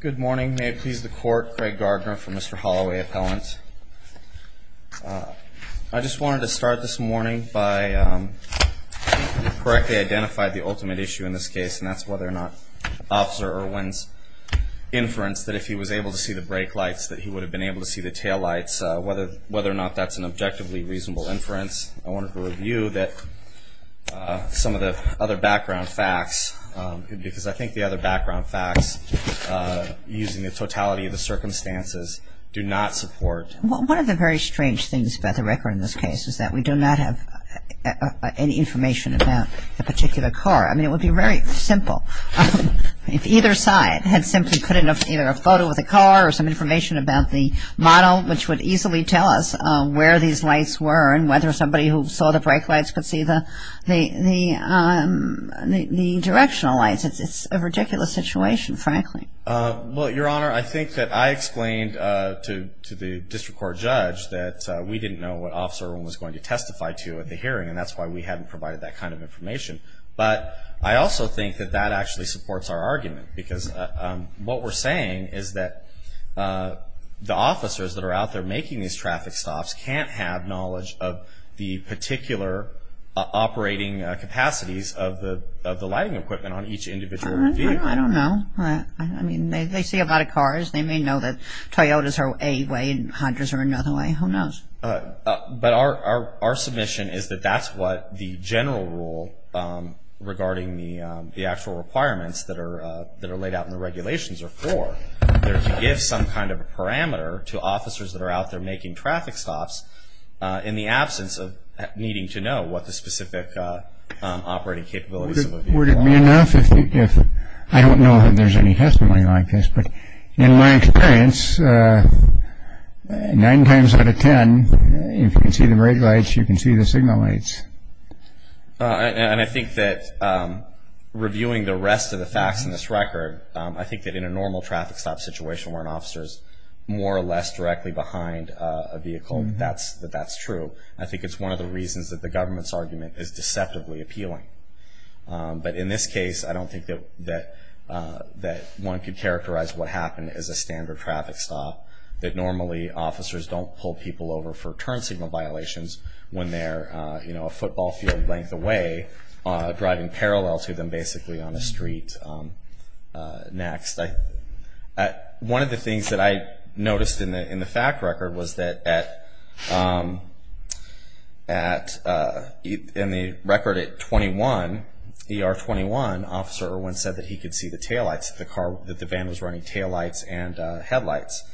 Good morning. May it please the Court, Craig Gardner for Mr. Holloway Appellant. I just wanted to start this morning by correctly identifying the ultimate issue in this case, and that's whether or not Officer Irwin's inference that if he was able to see the brake lights, that he would have been able to see the taillights, whether or not that's an objectively reasonable inference. I wanted to review that some of the other background facts, because I think the other background facts, using the totality of the circumstances, do not support. One of the very strange things about the record in this case is that we do not have any information about the particular car. I mean, it would be very simple if either side had simply put in either a photo of the car or some information about the model, which would easily tell us where these lights were and whether somebody who saw the brake lights could see the directional lights. It's a ridiculous situation, frankly. Well, Your Honor, I think that I explained to the district court judge that we didn't know what Officer Irwin was going to testify to at the hearing, and that's why we haven't provided that kind of information. But I also think that that actually supports our argument, because what we're saying is that the officers that are out there making these traffic stops can't have knowledge of the particular operating capacities of the lighting equipment on each individual vehicle. I don't know. I mean, they see a lot of cars. They may know that Toyotas are a way and Hondas are another way. Who knows? But our submission is that that's what the general rule regarding the actual requirements that are laid out in the regulations are for. So if you give some kind of a parameter to officers that are out there making traffic stops in the absence of needing to know what the specific operating capabilities of a vehicle are. Would it be enough if I don't know if there's any testimony like this, but in my experience, nine times out of ten, if you can see the brake lights, you can see the signal lights. And I think that reviewing the rest of the facts in this record, I think that in a normal traffic stop situation where an officer is more or less directly behind a vehicle, that that's true. I think it's one of the reasons that the government's argument is deceptively appealing. But in this case, I don't think that one could characterize what happened as a standard traffic stop, that normally officers don't pull people over for turn signal violations when they're, you know, a football field length away, driving parallel to them basically on a street. Next. One of the things that I noticed in the fact record was that in the record at 21, ER 21, an officer said that he could see the taillights, that the van was running taillights and headlights.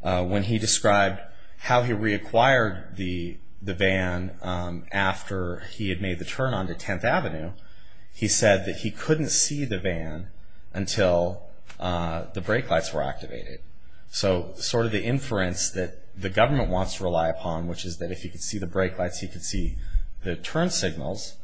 When he described how he reacquired the van after he had made the turn onto 10th Avenue, he said that he couldn't see the van until the brake lights were activated. So sort of the inference that the government wants to rely upon, which is that if he could see the brake lights, he could see the turn signals,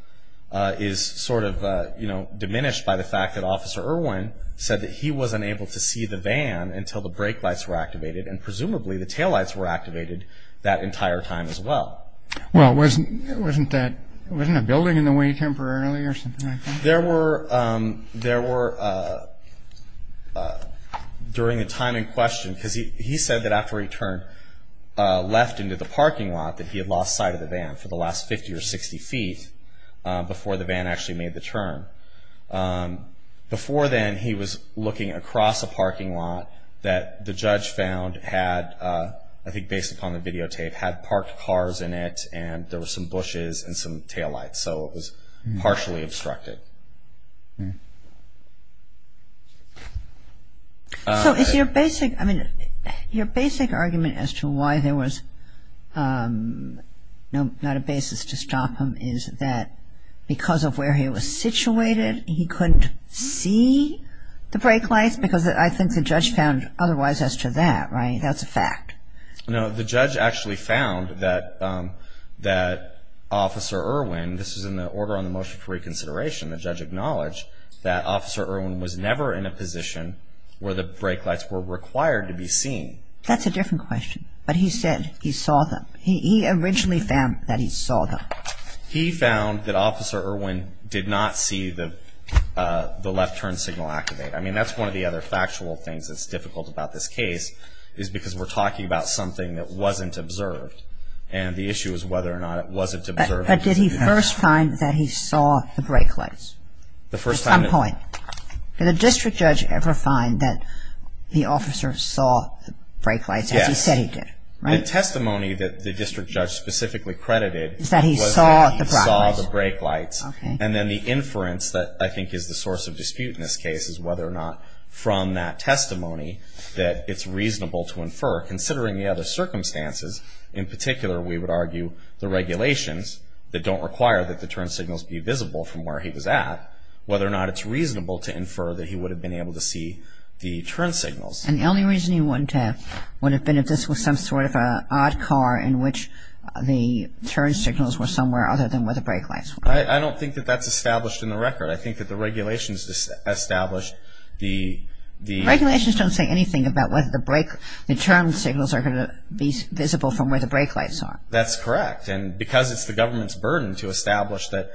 is sort of, you know, diminished by the fact that Officer Irwin said that he wasn't able to see the van until the brake lights were activated, and presumably the taillights were activated that entire time as well. Well, wasn't that, wasn't a building in the way temporarily or something like that? There were, there were, during the time in question, because he said that after he turned left into the parking lot, that he had lost sight of the van for the last 50 or 60 feet before the van actually made the turn. Before then, he was looking across a parking lot that the judge found had, I think based upon the videotape, had parked cars in it and there were some bushes and some taillights. So it was partially obstructed. So is your basic, I mean, your basic argument as to why there was not a basis to stop him is that because of where he was situated, he couldn't see the brake lights? Because I think the judge found otherwise as to that, right? That's a fact. No, the judge actually found that Officer Irwin, this is in the order on the motion for reconsideration, the judge acknowledged that Officer Irwin was never in a position where the brake lights were required to be seen. That's a different question. But he said he saw them. He originally found that he saw them. He found that Officer Irwin did not see the left turn signal activate. I mean, that's one of the other factual things that's difficult about this case is because we're talking about something that wasn't observed. And the issue is whether or not it wasn't observed. But did he first find that he saw the brake lights at some point? Did the district judge ever find that the officer saw the brake lights as he said he did? Yes. The testimony that the district judge specifically credited was that he saw the brake lights. Okay. And then the inference that I think is the source of dispute in this case In particular, we would argue the regulations that don't require that the turn signals be visible from where he was at, whether or not it's reasonable to infer that he would have been able to see the turn signals. And the only reason he wouldn't have would have been if this was some sort of an odd car in which the turn signals were somewhere other than where the brake lights were. I don't think that that's established in the record. I think that the regulations established the... that the turn signals are going to be visible from where the brake lights are. That's correct. And because it's the government's burden to establish that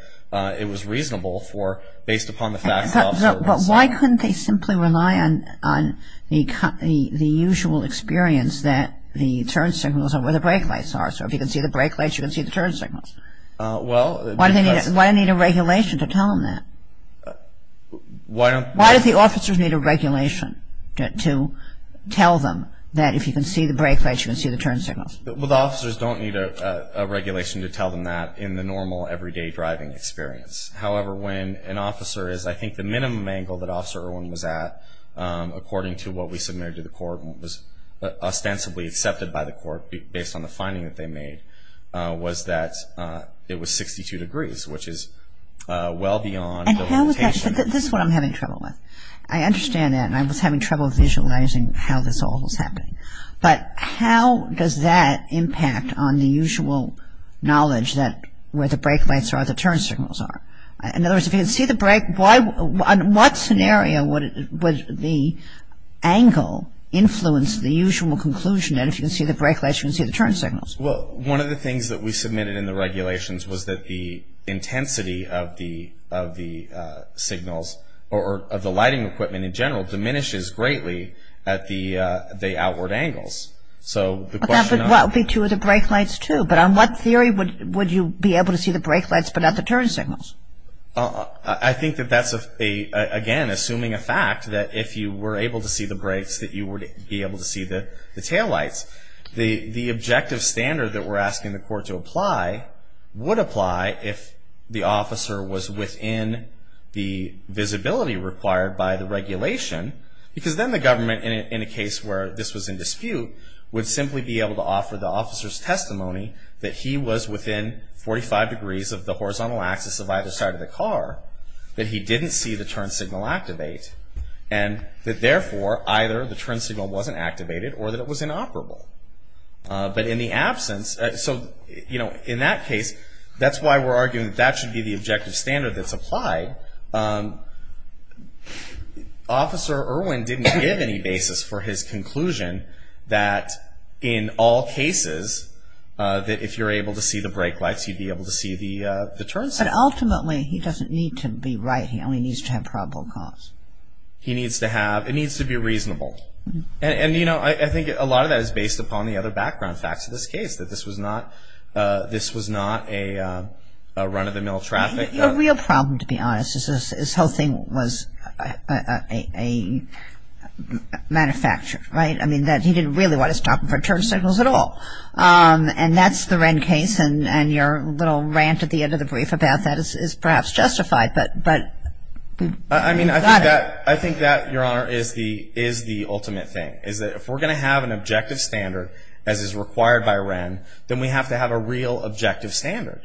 it was reasonable for, based upon the facts of... But why couldn't they simply rely on the usual experience that the turn signals are where the brake lights are? So if you can see the brake lights, you can see the turn signals. Well... Why do they need a regulation to tell them that? Why don't... Officers need a regulation to tell them that if you can see the brake lights, you can see the turn signals. Well, the officers don't need a regulation to tell them that in the normal everyday driving experience. However, when an officer is... I think the minimum angle that Officer Irwin was at, according to what we submitted to the court and was ostensibly accepted by the court based on the finding that they made, was that it was 62 degrees, which is well beyond the limitations... This is what I'm having trouble with. I understand that, and I was having trouble visualizing how this all was happening. But how does that impact on the usual knowledge that where the brake lights are, the turn signals are? In other words, if you can see the brake... On what scenario would the angle influence the usual conclusion that if you can see the brake lights, you can see the turn signals? Well, one of the things that we submitted in the regulations was that the intensity of the signals or of the lighting equipment in general diminishes greatly at the outward angles. So the question... But that would be true of the brake lights, too. But on what theory would you be able to see the brake lights but not the turn signals? I think that that's, again, assuming a fact, that if you were able to see the brakes, that you would be able to see the taillights. The objective standard that we're asking the court to apply would apply if the officer was within the visibility required by the regulation, because then the government, in a case where this was in dispute, would simply be able to offer the officer's testimony that he was within 45 degrees of the horizontal axis of either side of the car, that he didn't see the turn signal activate, and that, therefore, either the turn signal wasn't activated or that it was inoperable. But in the absence... So, you know, in that case, that's why we're arguing that that should be the objective standard that's applied. Officer Irwin didn't give any basis for his conclusion that, in all cases, that if you're able to see the brake lights, you'd be able to see the turn signals. But ultimately, he doesn't need to be right. He only needs to have probable cause. He needs to have... It needs to be reasonable. And, you know, I think a lot of that is based upon the other background facts of this case, that this was not a run-of-the-mill traffic. The real problem, to be honest, is this whole thing was manufactured, right? I mean, that he didn't really want to stop for turn signals at all. And that's the Wren case, and your little rant at the end of the brief about that is perhaps justified, but... I mean, I think that, Your Honor, is the ultimate thing, is that if we're going to have an objective standard, as is required by Wren, then we have to have a real objective standard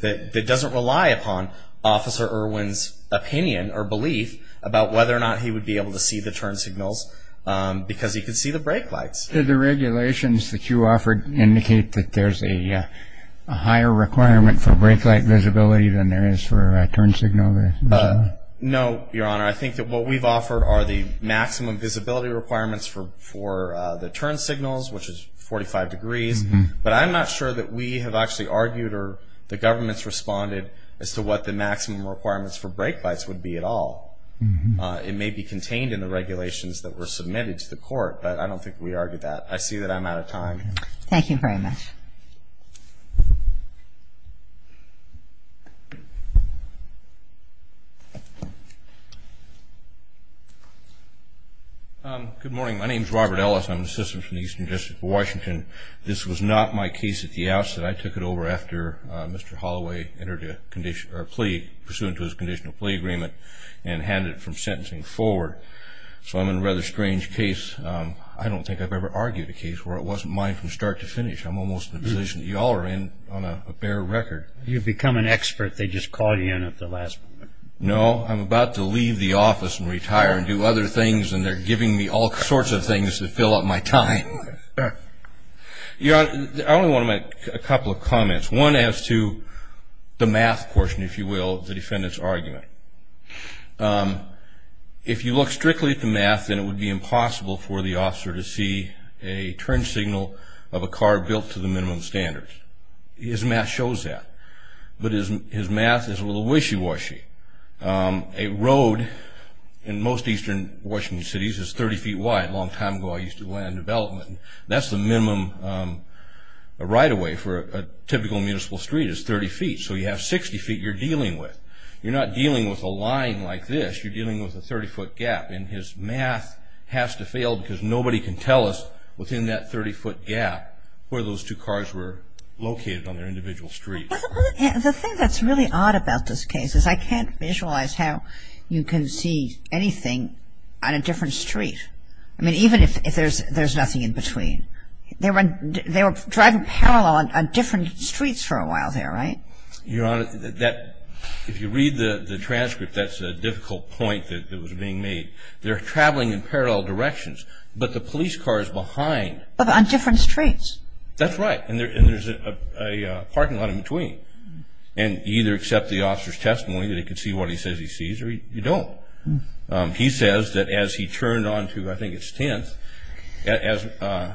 that doesn't rely upon Officer Irwin's opinion or belief about whether or not he would be able to see the turn signals because he could see the brake lights. Did the regulations that you offered indicate that there's a higher requirement for brake light visibility than there is for a turn signal? No, Your Honor. I think that what we've offered are the maximum visibility requirements for the turn signals, which is 45 degrees. But I'm not sure that we have actually argued or the government's responded as to what the maximum requirements for brake lights would be at all. It may be contained in the regulations that were submitted to the court, but I don't think we argued that. I see that I'm out of time. Thank you very much. Good morning. My name is Robert Ellis. I'm an assistant from the Eastern District of Washington. This was not my case at the outset. I took it over after Mr. Holloway entered a plea pursuant to his conditional plea agreement and handed it from sentencing forward. So I'm in a rather strange case. I don't think I've ever argued a case where it wasn't mine from start to finish. I'm almost in a position that you all are in on a bare record. You've become an expert. They just called you in at the last moment. No, I'm about to leave the office and retire and do other things, and they're giving me all sorts of things to fill up my time. Your Honor, I only want to make a couple of comments, one as to the math portion, if you will, of the defendant's argument. If you look strictly at the math, then it would be impossible for the officer to see a turn signal of a car built to the minimum standards. His math shows that. But his math is a little wishy-washy. A road in most eastern Washington cities is 30 feet wide. A long time ago I used to land development. That's the minimum right-of-way for a typical municipal street is 30 feet. So you have 60 feet you're dealing with. You're not dealing with a line like this. You're dealing with a 30-foot gap. And his math has to fail because nobody can tell us within that 30-foot gap where those two cars were located on their individual streets. The thing that's really odd about this case is I can't visualize how you can see anything on a different street, I mean, even if there's nothing in between. They were driving parallel on different streets for a while there, right? Your Honor, if you read the transcript, that's a difficult point that was being made. They're traveling in parallel directions, but the police car is behind. But on different streets. That's right. And there's a parking lot in between. And you either accept the officer's testimony that he can see what he says he sees or you don't. He says that as he turned onto I think it's 10th, as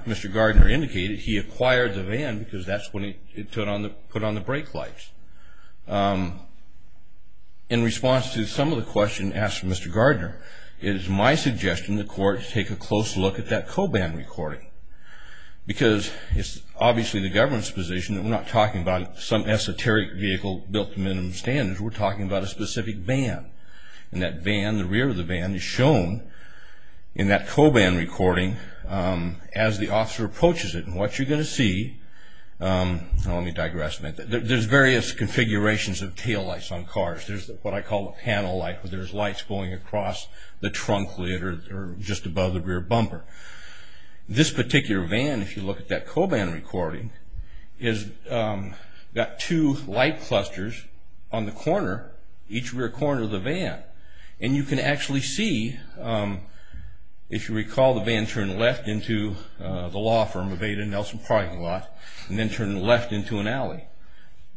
Mr. Gardner indicated, he acquired the van because that's when he put on the brake lights. In response to some of the questions asked from Mr. Gardner, it is my suggestion the court take a close look at that co-van recording because it's obviously the government's position that we're not talking about some esoteric vehicle built to minimum standards. We're talking about a specific van. And that van, the rear of the van, is shown in that co-van recording as the officer approaches it and what you're going to see, let me digress a minute, there's various configurations of taillights on cars. There's what I call a panel light where there's lights going across the trunk lid or just above the rear bumper. This particular van, if you look at that co-van recording, has got two light clusters on the corner, each rear corner of the van. And you can actually see, if you recall, the van turned left into the law firm of Ada Nelson Parking Lot and then turned left into an alley.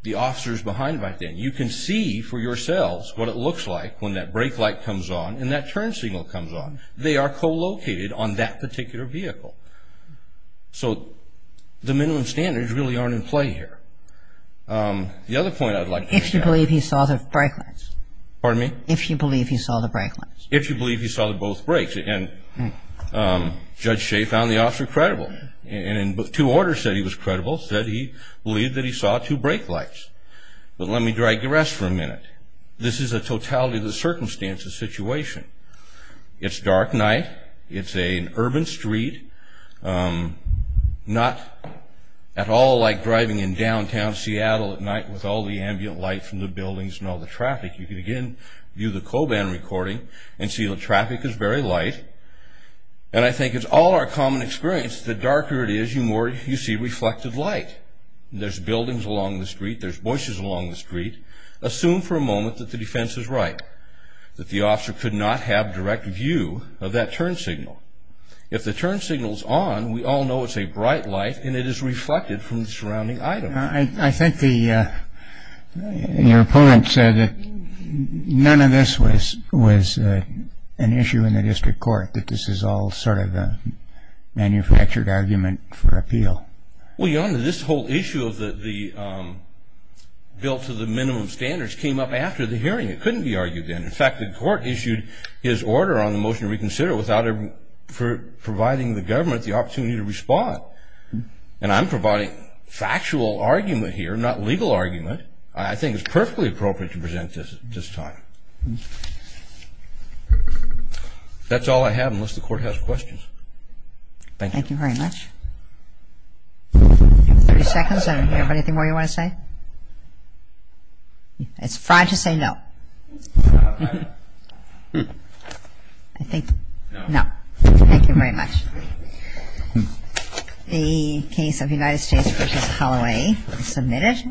The officer's behind back there. You can see for yourselves what it looks like when that brake light comes on and that turn signal comes on. They are co-located on that particular vehicle. So the minimum standards really aren't in play here. The other point I'd like to make. If you believe he saw the brake lights. Pardon me? If you believe he saw the brake lights. If you believe he saw both brakes. And Judge Shea found the officer credible. And in two orders said he was credible, said he believed that he saw two brake lights. But let me digress for a minute. This is a totality of the circumstances situation. It's a dark night. It's an urban street, not at all like driving in downtown Seattle at night with all the ambient light from the buildings and all the traffic. You can, again, view the co-van recording and see the traffic is very light. And I think it's all our common experience. The darker it is, the more you see reflected light. There's buildings along the street. There's bushes along the street. Assume for a moment that the defense is right, that the officer could not have direct view of that turn signal. If the turn signal is on, we all know it's a bright light and it is reflected from the surrounding item. I think your opponent said that none of this was an issue in the district court, that this is all sort of a manufactured argument for appeal. Well, Your Honor, this whole issue of the bill to the minimum standards came up after the hearing. It couldn't be argued then. In fact, the court issued his order on the motion to reconsider without providing the government the opportunity to respond. And I'm providing factual argument here, not legal argument. I think it's perfectly appropriate to present this at this time. That's all I have unless the court has questions. Thank you. Thank you very much. You have 30 seconds. Is there anything more you want to say? It's fine to say no. I think no. Thank you very much. The case of United States v. Holloway is submitted.